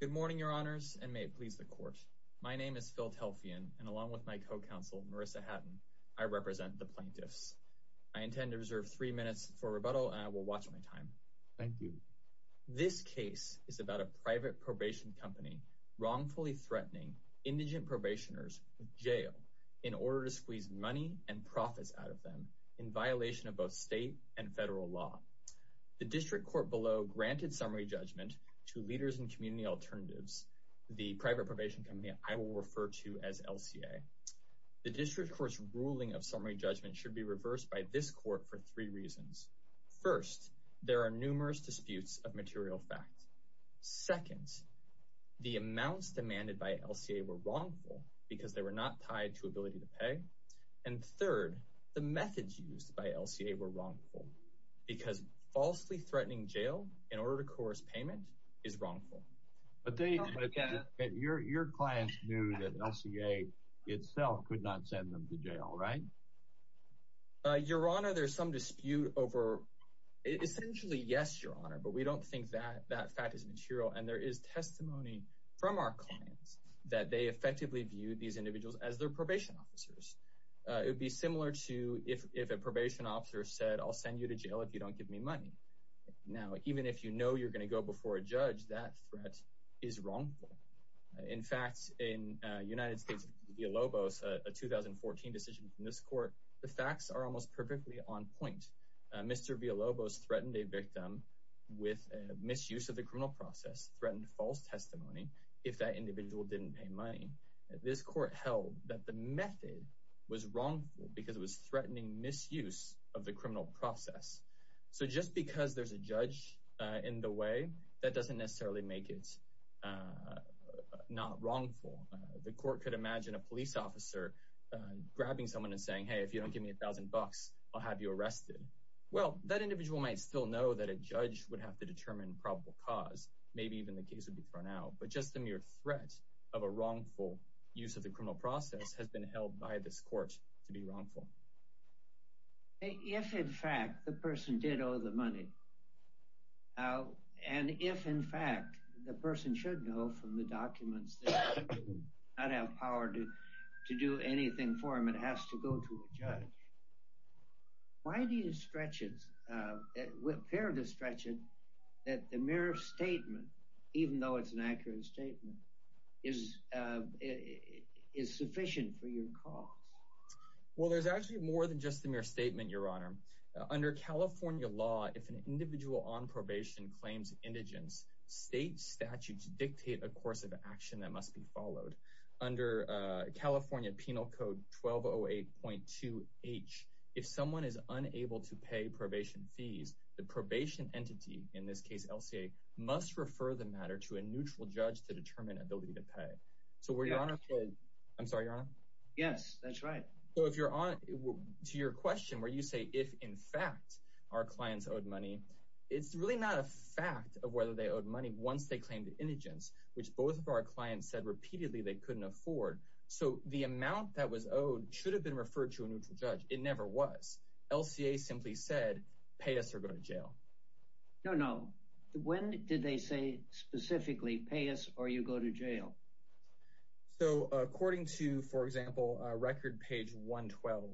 Good morning, Your Honors, and may it please the Court. My name is Phil Telfian, and along with my co-counsel, Marissa Hatton, I represent the plaintiffs. I intend to reserve three minutes for rebuttal, and I will watch my time. Thank you. This case is about a private probation company wrongfully threatening indigent probationers with jail in order to squeeze money and profits out of them in violation of both state and federal law. The district court below granted summary judgment to Leaders in Community Alternatives, the private probation company I will refer to as LCA. The district court's ruling of summary judgment should be reversed by this court for three reasons. First, there are numerous disputes of material facts. Second, the amounts demanded by LCA were wrongful because they were not tied to ability to pay. And third, the methods used by LCA were wrongful because falsely threatening jail in order to pay a payment is wrongful. But your clients knew that LCA itself could not send them to jail, right? Your Honor, there's some dispute over, essentially, yes, Your Honor, but we don't think that that fact is material, and there is testimony from our clients that they effectively viewed these individuals as their probation officers. It would be similar to if a probation officer said, I'll send you to jail if you don't give me money. Now, even if you know you're before a judge, that threat is wrongful. In fact, in United States' Villalobos, a 2014 decision from this court, the facts are almost perfectly on point. Mr. Villalobos threatened a victim with misuse of the criminal process, threatened false testimony if that individual didn't pay money. This court held that the method was wrongful because it was threatening misuse of the criminal process. That doesn't necessarily make it not wrongful. The court could imagine a police officer grabbing someone and saying, hey, if you don't give me a thousand bucks, I'll have you arrested. Well, that individual might still know that a judge would have to determine probable cause. Maybe even the case would be thrown out. But just the mere threat of a wrongful use of the criminal process has been held by this court to be wrongful. If, in fact, the person should know from the documents that you do not have power to do anything for him, it has to go to a judge. Why do you stretch it, fear to stretch it, that the mere statement, even though it's an accurate statement, is sufficient for your cause? Well, there's actually more than just the mere statement, Your Indigence. State statutes dictate a course of action that must be followed. Under California Penal Code 1208.2H, if someone is unable to pay probation fees, the probation entity, in this case, LCA, must refer the matter to a neutral judge to determine ability to pay. So, Your Honor, I'm sorry, Your Honor? Yes, that's right. So, if you're on to your question where you say, if, in fact, our clients owed money, it's really not a fact of whether they owed money once they claimed indigence, which both of our clients said repeatedly they couldn't afford. So the amount that was owed should have been referred to a neutral judge. It never was. LCA simply said, pay us or go to jail. No, no. When did they say specifically, pay us or you go to jail? So, according to, for example, record page 112,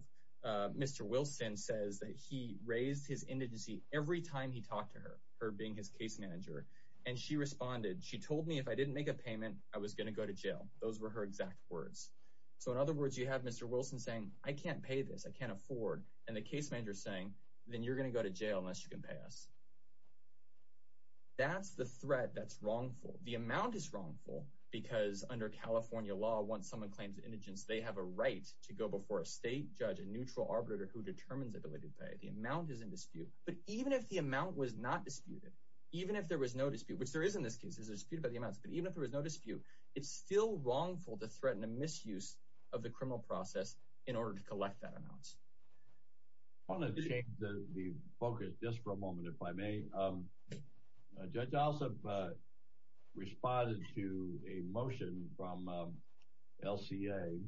Mr. Wilson says that he raised his indigency every time he talked to her, her being his case manager. And she responded, she told me if I didn't make a payment, I was going to go to jail. Those were her exact words. So, in other words, you have Mr. Wilson saying, I can't pay this. I can't afford. And the case manager saying, then you're going to go to jail unless you can pay us. That's the threat that's wrongful. The amount is wrongful because under California law, once someone claims indigence, they have a right to go before a state judge, a neutral arbitrator who determines ability to pay. The amount is in dispute. But even if the amount was not disputed, even if there was no dispute, which there is in this case, there's a dispute about the amounts, but even if there was no dispute, it's still wrongful to threaten a misuse of the criminal process in order to collect that amount. I want to change the focus just for a moment, if I may. Judge Alsop responded to a motion from LCA.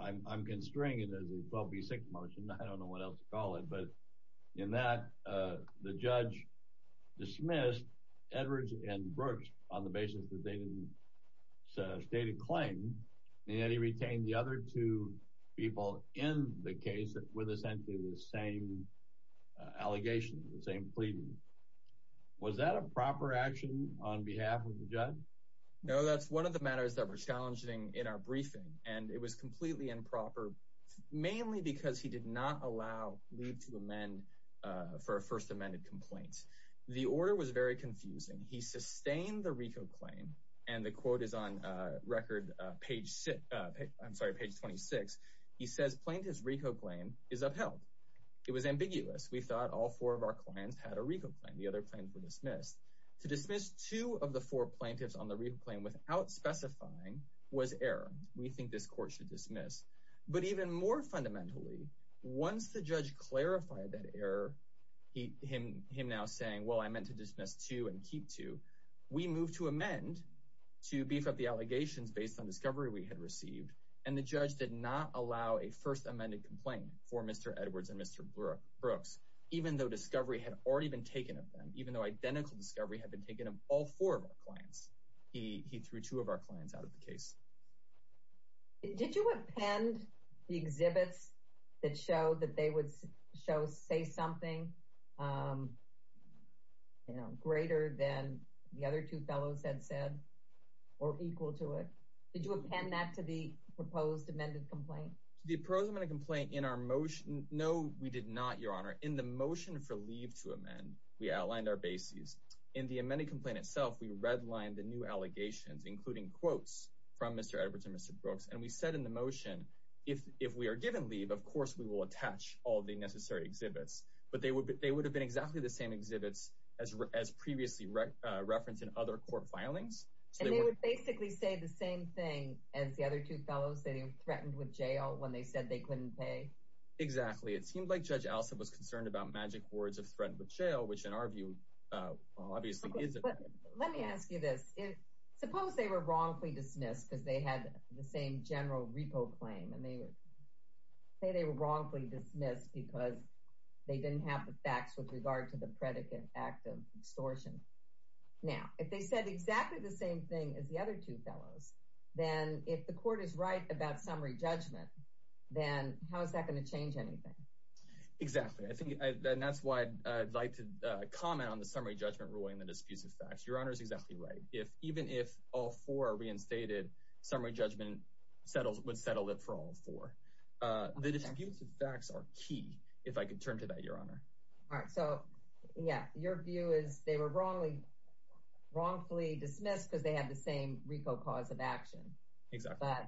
I'm constraining it as a 12B6 motion. I don't know what else to call it. But in that, the judge dismissed Edwards and Brooks on the basis that they didn't state a claim, and yet he retained the other two people in the case with essentially the same allegations, the same pleadings. Was that a proper action on behalf of the judge? No, that's one of the matters that were challenging in our briefing, and it was completely improper, mainly because he did not allow leave to amend for a first amended complaint. The order was very confusing. He sustained the RICO claim, and the quote is on record page 26. He says, plaintiff's RICO claim is upheld. It was ambiguous. We thought all four of our clients had a RICO claim. The other claims were dismissed. To dismiss two of the four plaintiffs on the RICO claim without specifying was error. We think this court should dismiss. But even more fundamentally, once the judge clarified that error, him now saying, well, I meant to dismiss two and keep two, we moved to amend to beef up the allegations based on discovery we had received, and the judge did not allow a first amended complaint for Mr. Edwards and Mr. Brooks, even though discovery had already been taken of them, even though identical discovery had been taken of all four of our clients. He threw two of our clients out of the case. Did you append the exhibits that show that they would say something greater than the other two fellows had said or equal to it? Did you append that to the proposed amended complaint? The proposed amended complaint in our motion... No, we did not, Your Honor. In the motion for to amend, we outlined our bases. In the amended complaint itself, we redlined the new allegations, including quotes from Mr. Edwards and Mr. Brooks. And we said in the motion, if we are given leave, of course, we will attach all the necessary exhibits. But they would have been exactly the same exhibits as previously referenced in other court filings. And they would basically say the same thing as the other two fellows, that he threatened with jail when they said they couldn't pay? Exactly. It seemed like Judge Allison was concerned about magic words of threatened with jail, which in our view, obviously, is a... Let me ask you this. Suppose they were wrongfully dismissed because they had the same general repo claim and they would say they were wrongfully dismissed because they didn't have the facts with regard to the predicate act of extortion. Now, if they said exactly the same thing as the other two fellows, then if the court is right about summary judgment, then how is that going to And that's why I'd like to comment on the summary judgment ruling, the disputes of facts. Your Honor is exactly right. If even if all four are reinstated, summary judgment settles, would settle it for all four. The disputes of facts are key. If I could turn to that, Your Honor. So, yeah, your view is they were wrongly, wrongfully dismissed because they have the same repo cause of action. Exactly. But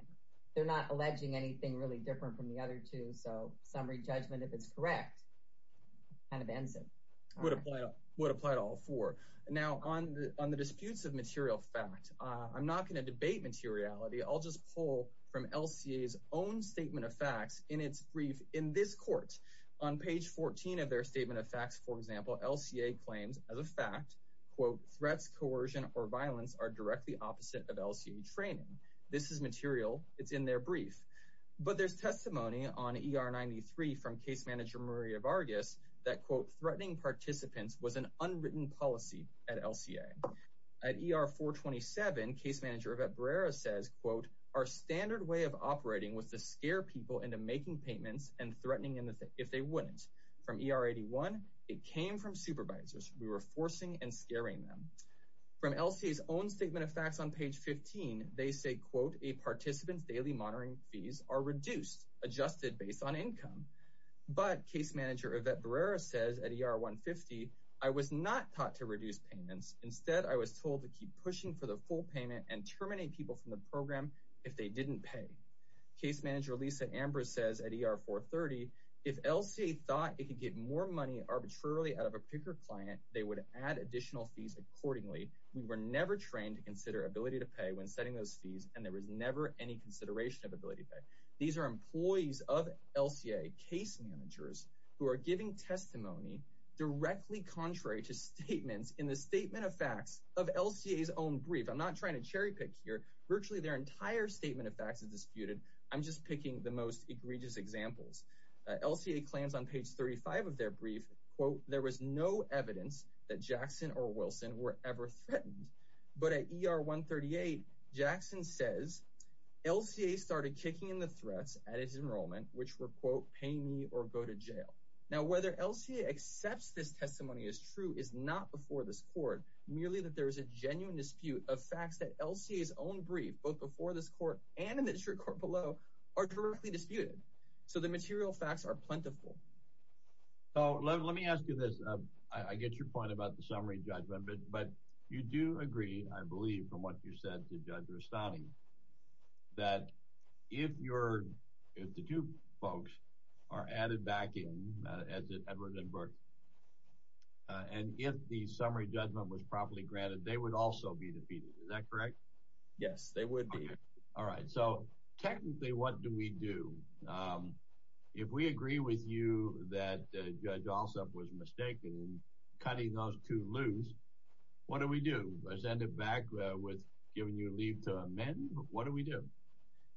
they're not alleging anything really different from the other two. So summary judgment, if it's correct, kind of ends it. Would apply to all four. Now on the disputes of material fact, I'm not going to debate materiality. I'll just pull from LCA's own statement of facts in its brief in this court. On page 14 of their statement of facts, for example, LCA claims as a fact, quote, threats, coercion or violence are directly opposite of LCA training. This is material. It's in their brief. But there's testimony on ER 93 from case manager Maria Vargas that, quote, threatening participants was an unwritten policy at LCA at ER 427. Case manager of a Brera says, quote, Our standard way of operating with the scare people into making payments and threatening in the if they wouldn't from ER 81. It came from supervisors. We were forcing and scaring them from LCS own statement of facts. On page 15, they say, quote, a participant's daily monitoring fees are reduced, adjusted based on income. But case manager of that Brera says at ER 1 50, I was not taught to reduce payments. Instead, I was told to keep pushing for the full payment and terminate people from the program if they didn't pay. Case manager Lisa Amber says at ER 4 30 if LCA thought it could get more money arbitrarily out of a picker client, they would add additional fees accordingly. We were never trained to consider ability to pay when setting those fees, and there was never any consideration of ability to pay. These are employees of LCA case managers who are giving testimony directly contrary to statements in the statement of facts of LCS own brief. I'm not trying to cherry pick here. Virtually their entire statement of facts is disputed. I'm just picking the most egregious examples. LCA claims on page 35 of their brief, quote, There was no evidence that Jackson or Wilson were ever threatened. But at ER 1 38, Jackson says LCA started kicking in the threats at his enrollment, which were, quote, Pay me or go to jail. Now, whether LCA accepts this testimony is true is not before this court, merely that there is a genuine dispute of facts that LCS own brief both before this court and in the district court below are directly disputed. So the material facts are plentiful. So let me ask you this. I get your point about the summary judgment. But you do agree, I believe, from what you said to Judge Rustani that if you're if the two folks are added back in as Edward and Burke and if the summary judgment was properly granted, they would also be defeated. Is that correct? Yes, they would be. All right. So technically, what do we do? Um, if we agree with you that Judge Alsop was mistaken in cutting those two loose, what do we do? Send it back with giving you a leave to amend? What do we do?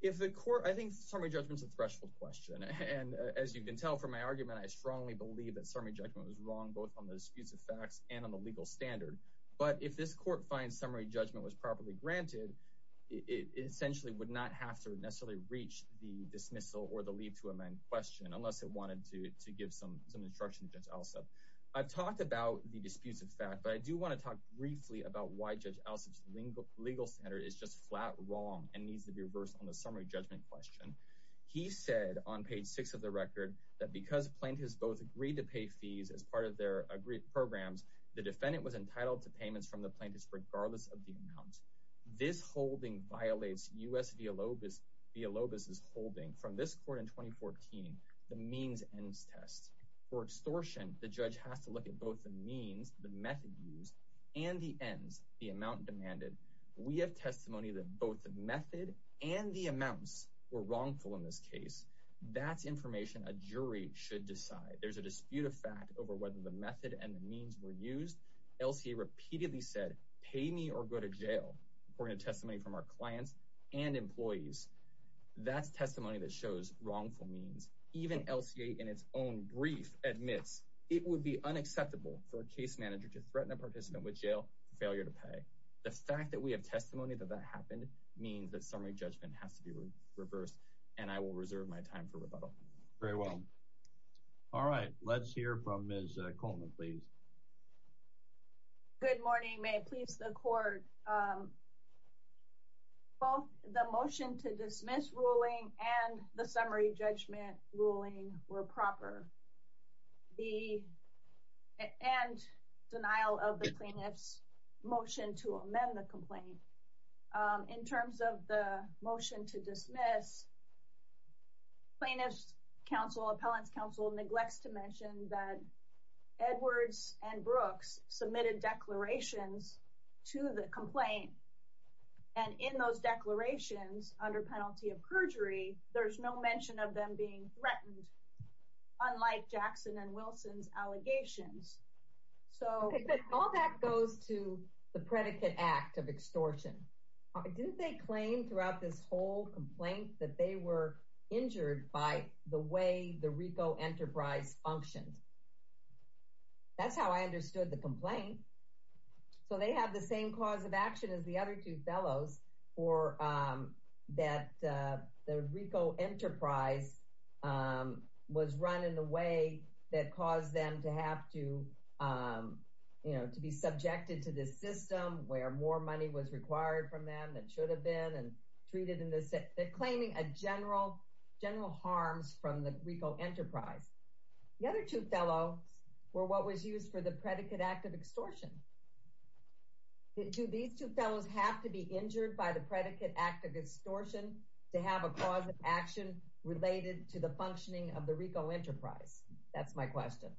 If the court I think summary judgment is a threshold question. And as you can tell from my argument, I strongly believe that summary judgment was wrong, both on the disputes of facts and on the legal standard. But if this court finds summary judgment was properly granted, it essentially would not have to necessarily reach the dismissal or the leave to amend question unless it wanted to give some some instruction to Judge Alsop. I've talked about the disputes of fact, but I do want to talk briefly about why Judge Alsop's legal standard is just flat wrong and needs to be reversed on the summary judgment question. He said on page six of the record that because plaintiffs both agreed to pay fees as part of their agreed programs, the defendant was entitled to payments from the plaintiffs regardless of the amount. This holding violates U.S. Villalobos' holding. From this court in 2014, the means ends test. For extortion, the judge has to look at both the means, the method used, and the ends, the amount demanded. We have testimony that both the method and the amounts were wrongful in this case. That's information a jury should decide. There's a dispute of fact over whether the method and the means were used. LCA repeatedly said, pay me or go to jail according to testimony from our clients and employees. That's testimony that shows wrongful means. Even LCA in its own brief admits it would be unacceptable for a case manager to threaten a participant with jail for failure to pay. The fact that we have testimony that that happened means that summary judgment has to be reversed, and I will reserve my time for rebuttal. Very well. All right. Let's hear from Ms. Colman, please. Good morning. May it please the court. Both the motion to dismiss ruling and the summary judgment ruling were proper. The end denial of the plaintiff's motion to amend the complaint. In terms of the motion to dismiss, plaintiff's counsel, appellant's counsel, neglects to mention that Edwards and Brooks submitted declarations to the complaint. And in those declarations under penalty of perjury, there's no mention of them being threatened, unlike Jackson and Wilson's allegations. So all that goes to the predicate act of extortion. Didn't they claim throughout this whole complaint that they were injured by the way the RICO enterprise functioned? That's how I understood the complaint. So they have the same cause of action as the other two fellows, or that the RICO enterprise was run in a way that caused them to have to, you know, to be subjected to this system where more money was required from them than should have been and treated in this. They're claiming a general, general harms from the RICO enterprise. The other two fellows were what was used for the predicate act of extortion. Do these two fellows have to be injured by the predicate act of extortion to have a cause of action related to the functioning of the RICO enterprise? That's my question.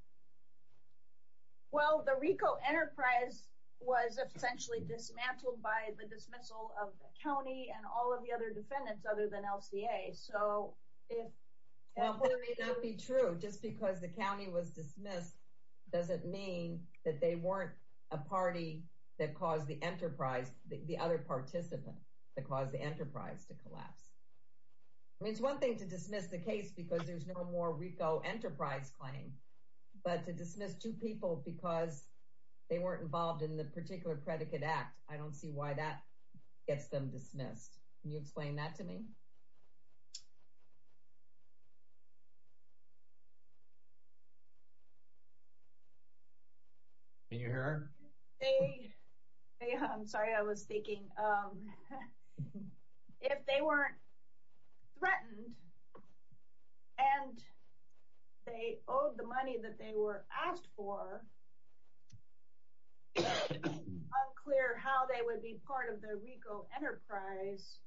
Well, the RICO enterprise was essentially dismantled by the dismissal of the county and all of the other defendants other than LCA. So if that may not be true, just because the county was dismissed, doesn't mean that they weren't a party that caused the enterprise, the other participant that caused the enterprise to collapse. I mean, it's one thing to dismiss the case because there's no more RICO enterprise claim. But to dismiss two people because they weren't involved in the particular predicate act, I don't see why that gets them dismissed. Can you explain that to me? Can you hear her? They, I'm sorry, I was thinking. If they weren't threatened, and they owed the money that they were asked for, it's unclear how they would be part of the RICO enterprise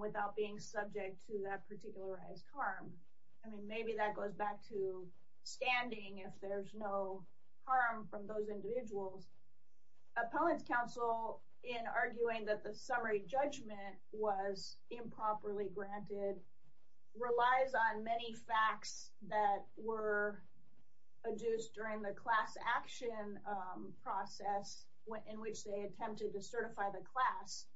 without being subject to that particularized harm. I mean, maybe that goes back to standing if there's no harm from those individuals. Appellant's Counsel, in arguing that the summary judgment was improperly granted, relies on many facts that were adduced during the class action process in which they attempted to certify the class.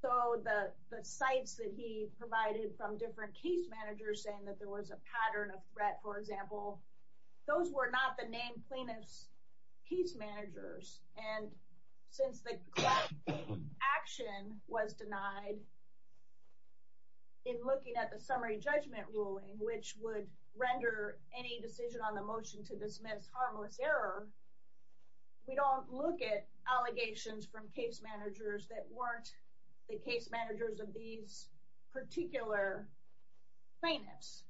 So the sites that he provided from different case managers saying that there was a pattern of threat, for example, those were not the named plaintiffs' case managers. And since the class action was denied, in looking at the summary judgment ruling, which would render any decision on the motion to dismiss harmless error, we don't look at allegations from case managers that weren't the case managers of these particular plaintiffs.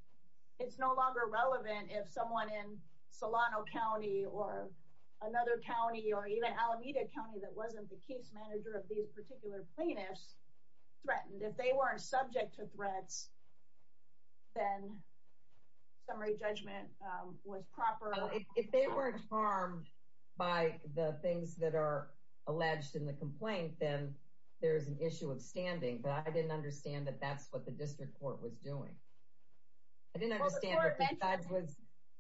It's no longer relevant if someone in Solano County or another county or even Alameda County that wasn't the case manager of these particular plaintiffs threatened. If they weren't subject to threats, then summary judgment was proper. If they weren't harmed by the things that are alleged in the complaint, then there's an issue of standing. But I didn't understand that that's what the district court was doing. I didn't understand that the judge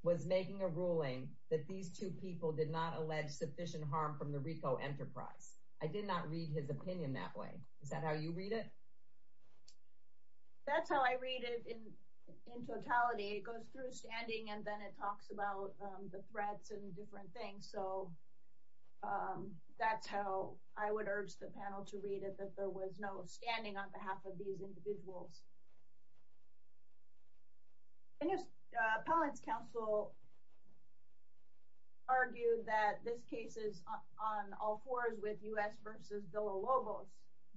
was making a ruling that these two people did not allege sufficient harm from the RICO enterprise. I did not read his opinion that way. Is that how you read it? That's how I read it in totality. It goes through standing and then it talks about the threats and different things. So that's how I would urge the panel to read it, that there was no standing on behalf of these individuals. Appellant's counsel argued that this case is on all fours with U.S. versus Villa-Lobos.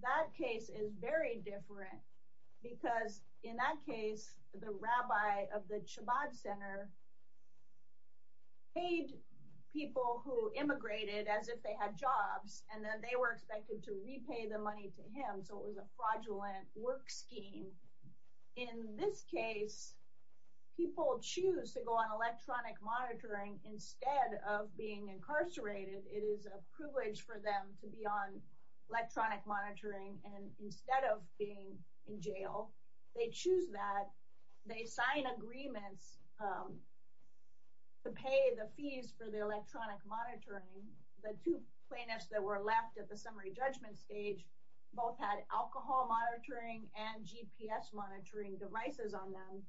That case is very different because in that case, the rabbi of the paid people who immigrated as if they had jobs and then they were expected to repay the money to him. So it was a fraudulent work scheme. In this case, people choose to go on electronic monitoring instead of being incarcerated. It is a privilege for them to be on electronic monitoring. And instead of being in jail, they choose that. They sign agreements to pay the fees for the electronic monitoring. The two plaintiffs that were left at the summary judgment stage both had alcohol monitoring and GPS monitoring devices on them.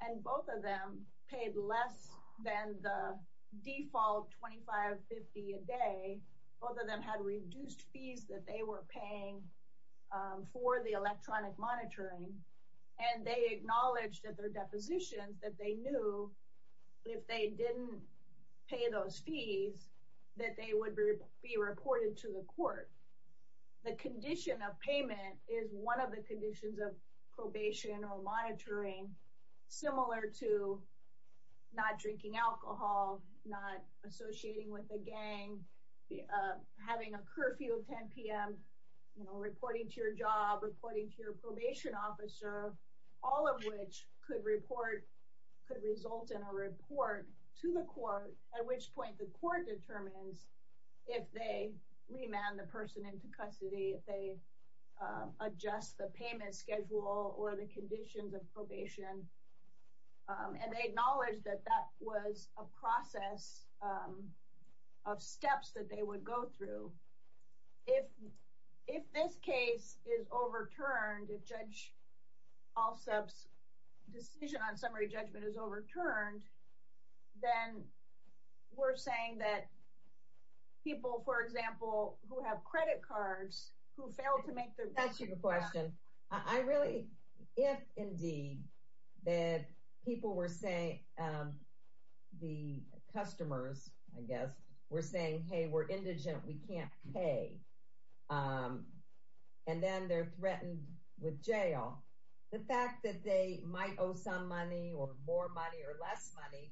And both of them paid less than the default $25.50 a day. Both of them had reduced fees that they were paying for the electronic monitoring. And they acknowledged that their depositions that they knew if they didn't pay those fees, that they would be reported to the court. The condition of payment is one of the conditions of probation or monitoring, similar to not drinking alcohol, not associating with a you know, reporting to your job, reporting to your probation officer, all of which could report could result in a report to the court, at which point the court determines if they remand the person into custody, they adjust the payment schedule or the conditions of probation. And they acknowledge that that was a process of If this case is overturned, if Judge Alsup's decision on summary judgment is overturned, then we're saying that people, for example, who have credit cards, who failed to make their That's a good question. I really, if indeed, that people were saying, the And then they're threatened with jail, the fact that they might owe some money or more money or less money,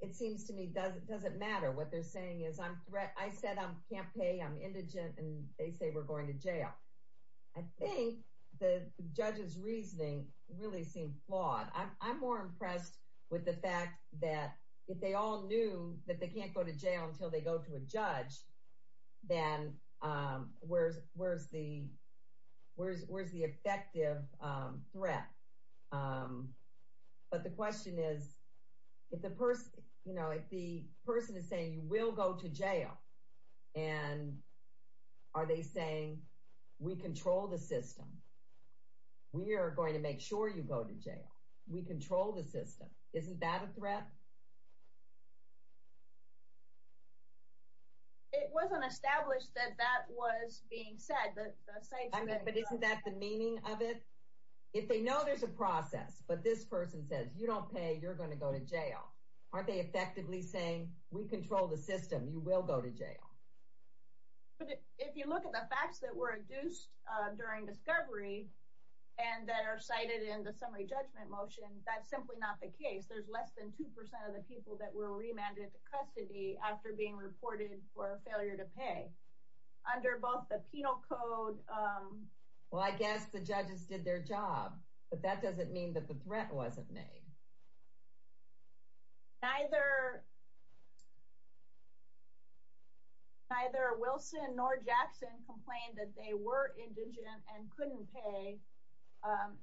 it seems to me doesn't doesn't matter what they're saying is I'm threat. I said, I'm can't pay. I'm indigent. And they say we're going to jail. I think the judge's reasoning really seemed flawed. I'm more impressed with the fact that if they all knew that they can't go to jail until they go to a judge, then where's where's the where's where's the effective threat? But the question is, if the person, you know, if the person is saying you will go to jail, and are they saying, we control the system, we are going to make sure you go to jail, we control the system. Isn't that a threat? It wasn't established that that was being said that say, but isn't that the meaning of it? If they know there's a process, but this person says you don't pay, you're going to go to jail, aren't they effectively saying we control the system, you will go to jail. But if you look at the facts that were induced during discovery, and that are cited in the summary judgment motion, that's simply not the case. There's less than 2% of the people that were remanded to custody after being reported for failure to pay under both the penal code. Well, I guess the judges did their job. But that doesn't mean that the threat wasn't made. Neither. Neither Wilson nor Jackson complained that they were indigent and couldn't pay and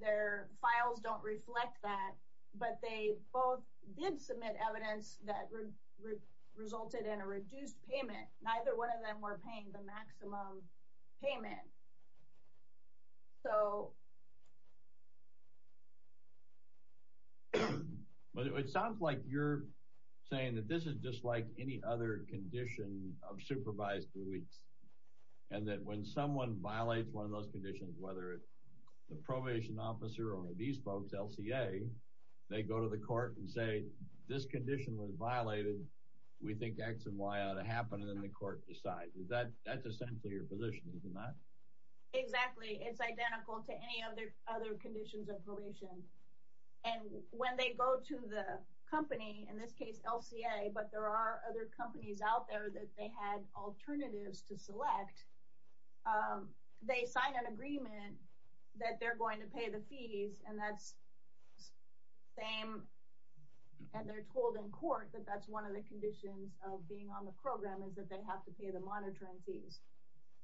their files don't reflect that. But they both did submit evidence that resulted in a reduced payment. Neither one of them were paying the maximum payment. So But it sounds like you're saying that this is just like any other condition of supervised deletes. And that when someone violates one of those conditions, whether it's the probation officer or these folks, LCA, they go to the court and say, this condition was violated, we think x and y ought to happen. And then the court decides that that's essentially your position, isn't that? Exactly. It's identical to any other other conditions of probation. And when they go to the company, in this case, LCA, but there are other companies out there that they had alternatives to select. They sign an agreement that they're going to pay the fees. And that's the same. And they're told in court that that's one of the conditions of being on the program is that they have to pay the monitoring fees.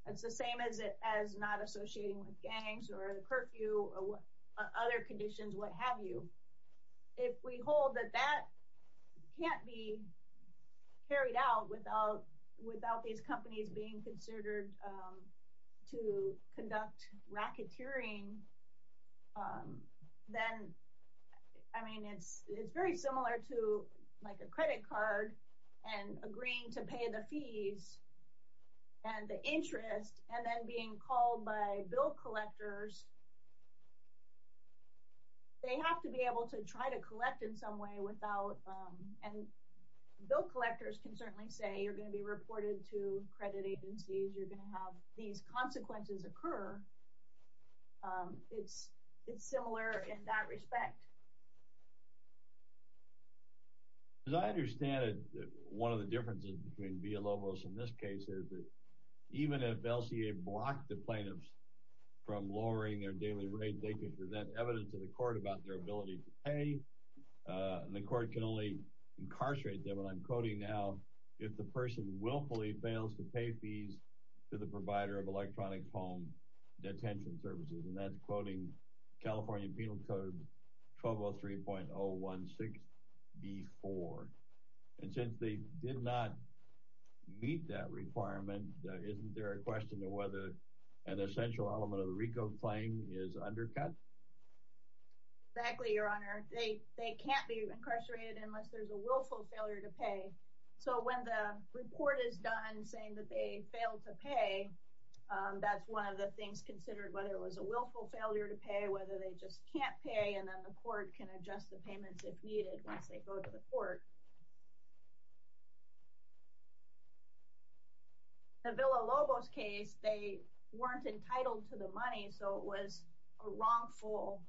It's the same as it as not associating with gangs or the curfew or other conditions, what have you. If we hold that that can't be carried out without without these companies being considered to conduct racketeering, then, I mean, it's, it's very similar to like a credit card, and agreeing to pay the fee and be able to try to collect in some way without. And bill collectors can certainly say you're going to be reported to credit agencies, you're going to have these consequences occur. It's, it's similar in that respect. As I understand it, one of the differences between Villalobos and this case is that even if LCA blocked the plaintiffs from lowering their daily rate, they could present evidence to the court about their ability to pay. And the court can only incarcerate them. And I'm quoting now, if the person willfully fails to pay fees to the provider of electronic home detention services, and that's quoting California Penal Code 1203.016B4. And since they did not meet that requirement, isn't there a question of whether an essential element of the RICO claim is undercut? Exactly, Your Honor, they can't be incarcerated unless there's a willful failure to pay. So when the report is done saying that they failed to pay, that's one of the things considered whether it was a willful failure to pay, whether they just can't pay, and then the court can adjust the payments if needed once they go to the court. In the Villalobos case, they weren't entitled to the money, so it was a wrongful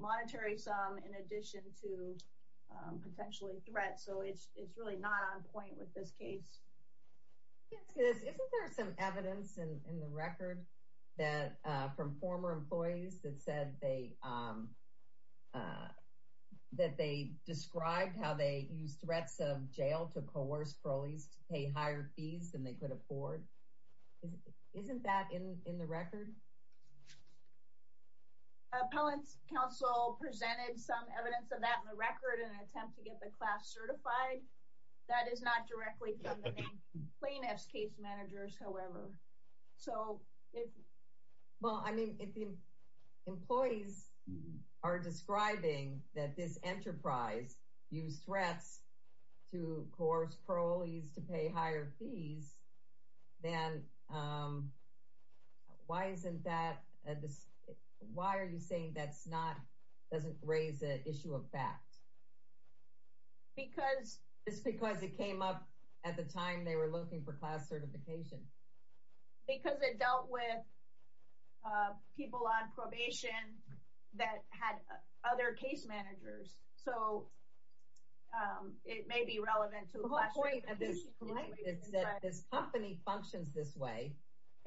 monetary sum in addition to potentially threat. So it's really not on point with this case. Yes, isn't there some evidence in the record from former employees that said they that they described how they use threats of jail to coerce proleagues to pay higher fees than they could afford? Isn't that in the record? Appellant's counsel presented some evidence of that in the record in an attempt to get the class certified. That is not directly from the plaintiff's case managers, however. So, well, I mean, if the employees are describing that this enterprise use threats to coerce proleagues to pay higher fees, then why isn't that? Why are you saying that's not doesn't raise the issue of fact? Because it's because it came up at the time they were looking for class certification. Because it dealt with people on probation that had other case managers. So it may be relevant to the point that this company functions this way.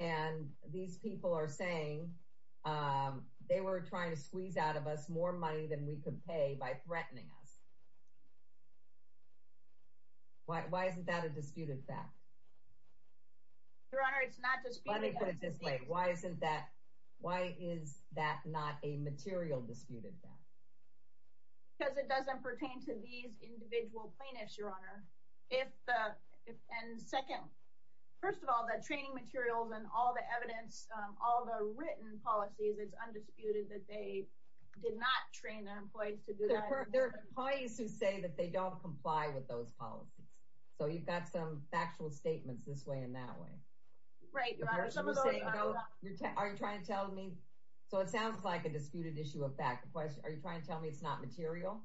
And these people are saying they were trying to squeeze out of us more money than we could pay by threatening us. Why isn't that a disputed fact? Your Honor, it's not disputed. Let me put it this way. Why isn't that, why is that not a material disputed fact? Because it doesn't pertain to these individual plaintiffs, Your Honor. And second, first of all, the training materials and all the evidence, all the written policies, it's undisputed that they did not train their employees to do that. There are employees who say that they don't comply with those policies. So you've got some factual statements this way and that way. Right, Your Honor. Are you trying to tell me, so it sounds like a disputed issue of fact. Are you trying to tell me it's not material?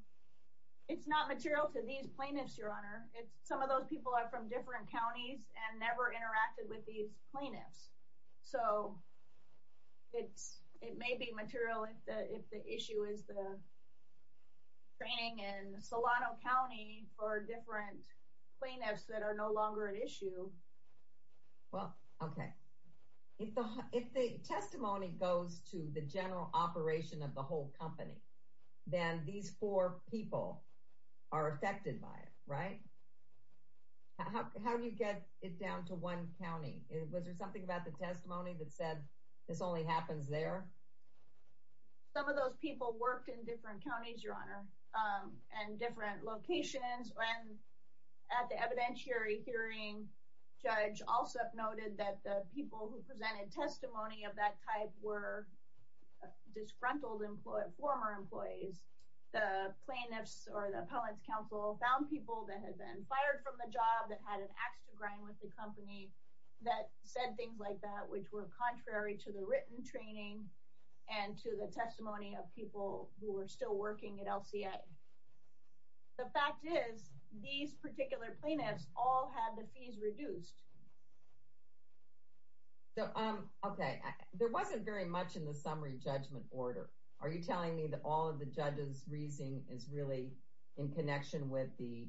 It's not material to these plaintiffs, Your Honor. Some of those people are from different counties and never interacted with these plaintiffs. So it's, it may be material if the issue is the training in Solano County for different plaintiffs that are no longer an issue. Well, okay. If the testimony goes to the general operation of the whole company, then these four people are affected by it, right? How do you get it down to one county? Was there something about the testimony that said this only happens there? Some of those people worked in different counties, Your Honor, and different locations. And at the evidentiary hearing, Judge Alsup noted that the people who presented testimony of that type were disgruntled former employees. The plaintiffs or the appellant's counsel found people that had been fired from the job that had an ax to grind with the company that said things like that, which were contrary to the written training and to the testimony of people who were still working at LCA. The fact is, these particular plaintiffs all had the fees reduced. Okay. There wasn't very much in the summary judgment order. Are you telling me that all of the judges' reasoning is really in connection with the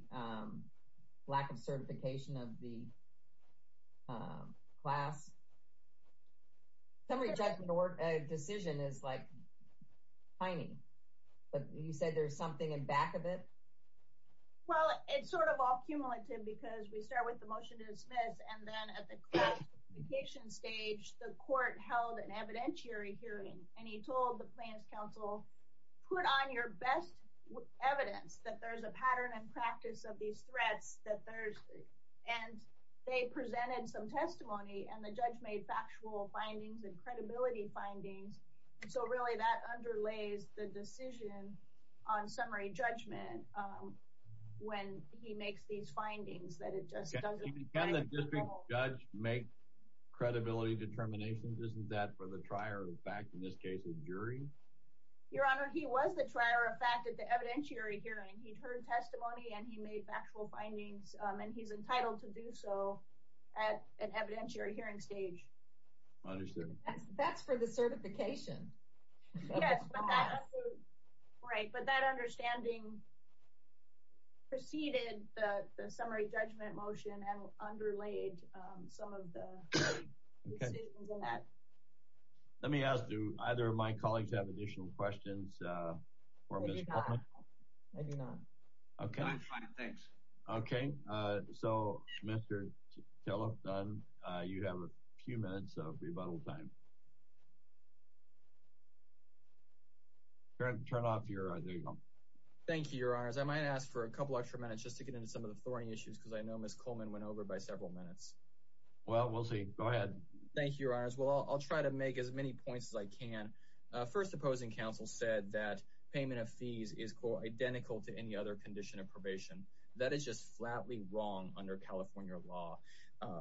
lack of certification of the class? The summary judgment decision is, like, tiny. But you said there's something in back of it? Well, it's sort of all cumulative because we start with the motion to dismiss, and then at the classification stage, the court held an evidentiary hearing, and he told the plaintiffs' counsel, put on your best evidence that there's a pattern and practice of these threats, and they presented some testimony, and the judge made factual findings and credibility findings. So really, that underlays the decision on summary judgment when he makes these findings, that it just doesn't… Can the district judge make credibility determinations? Isn't that for the trier of the fact, in this case, the jury? Your Honor, he was the trier of fact at the evidentiary hearing. He'd heard testimony, and he made factual findings, and he's entitled to do so at an evidentiary hearing stage. Understood. That's for the certification. Yes, but that understanding preceded the summary judgment motion and underlaid some of the decisions in that. Let me ask, do either of my colleagues have additional questions for Ms. Coleman? I do not. I do not. Okay. I'm fine, thanks. Okay. So, Mr. Kellogg-Dunn, you have a few minutes of rebuttal time. Turn off your… There you go. Thank you, Your Honors. I might ask for a couple extra minutes just to get into some of the thorny issues because I know Ms. Coleman went over by several minutes. Well, we'll see. Go ahead. Thank you, Your Honors. Well, I'll try to make as many points as I can. First, opposing counsel said that payment of fees is, quote, identical to any other condition of probation. That is just flatly wrong under California law.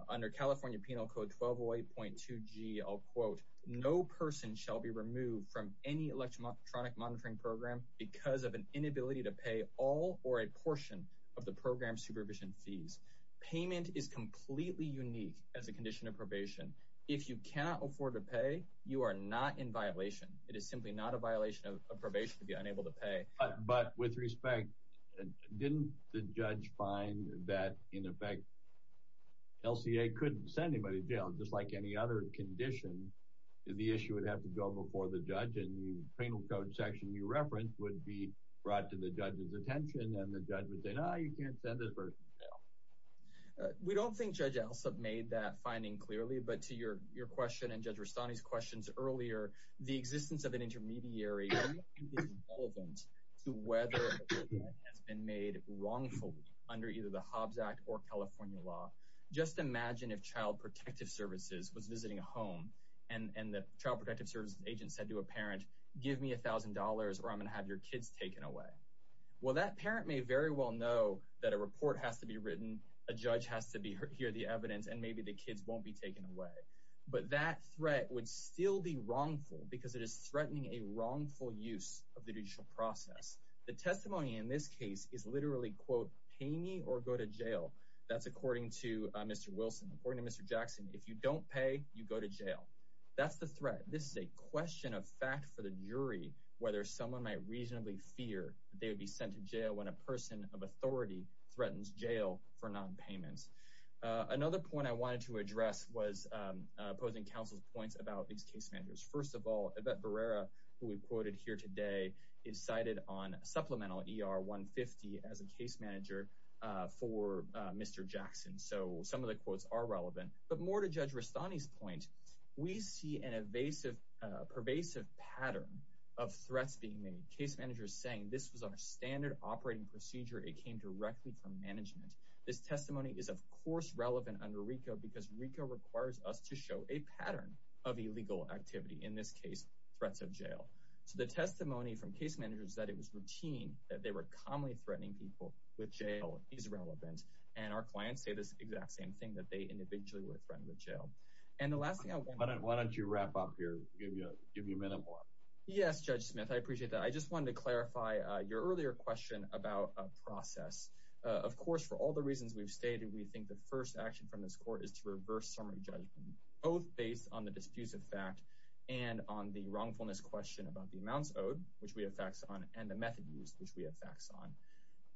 Under California Penal Code 1208.2g, I'll quote, no person shall be removed from any electronic monitoring program because of an inability to pay all or a portion of the program supervision fees. Payment is completely unique as a condition of probation. If you cannot afford to pay, you are not in violation. It is simply not a violation of probation to be unable to pay. But with respect, didn't the judge find that, in effect, LCA couldn't send anybody to jail just like any other condition? The issue would have to go before the judge, and the penal code section you referenced would be brought to the judge's We don't think Judge Elsup made that finding clearly, but to your question and Judge Rastani's questions earlier, the existence of an intermediary can be relevant to whether a payment has been made wrongfully under either the Hobbs Act or California law. Just imagine if Child Protective Services was visiting a home, and the Child Protective Services agent said to a parent, give me $1,000 or I'm going to have your kids taken away. Well, that parent may very well know that a report has to be written, a judge has to hear the evidence, and maybe the kids won't be taken away. But that threat would still be wrongful because it is threatening a wrongful use of the judicial process. The testimony in this case is literally, quote, pay me or go to jail. That's according to Mr. Wilson. According to Mr. Jackson, if you don't pay, you go to jail. That's the threat. This is a question of fact for the jury, whether someone might reasonably fear they would be sent to jail when a person of authority threatens jail for nonpayments. Another point I wanted to address was opposing counsel's points about these case managers. First of all, Yvette Barrera, who we quoted here today, is cited on supplemental ER 150 as a case manager for Mr. Jackson. So some of the quotes are relevant. But more to Judge Rastani's point, we see a pervasive pattern of threats being made, case managers saying this was our standard operating procedure. It came directly from management. This testimony is, of course, relevant under RICO because RICO requires us to show a pattern of illegal activity, in this case, threats of jail. So the testimony from case managers that it was routine, that they were commonly threatening people with jail is relevant. And our clients say this exact same thing, that they individually were threatened with jail. And the last thing I want to- Why don't you wrap up here, give me a minute more. Yes, Judge Smith, I appreciate that. I just wanted to clarify your earlier question about a process. Of course, for all the reasons we've stated, we think the first action from this court is to reverse summary judgment, both based on the diffusive fact and on the wrongfulness question about the amounts owed, which we have facts on, and the method used, which we have facts on.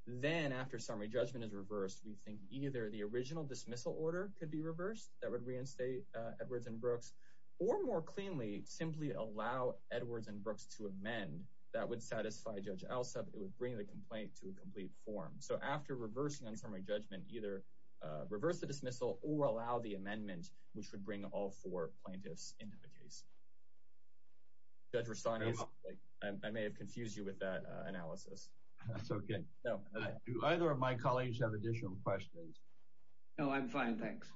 Then, after summary judgment is reversed, we think either the original dismissal order could be reversed, that would reinstate Edwards and Brooks, or more cleanly, simply allow Edwards and Brooks to amend. That would satisfy Judge Alsup, it would bring the complaint to a complete form. So after reversing on summary judgment, either reverse the dismissal or allow the amendment, which would bring all four plaintiffs into the case. Judge Rastanis, I may have confused you with that analysis. That's okay. Do either of my colleagues have additional questions? No, I'm fine, thanks.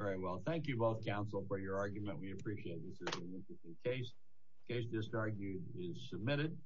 All right, well, thank you both, counsel, for your argument. We appreciate it. This is an interesting case. Case disargued is submitted.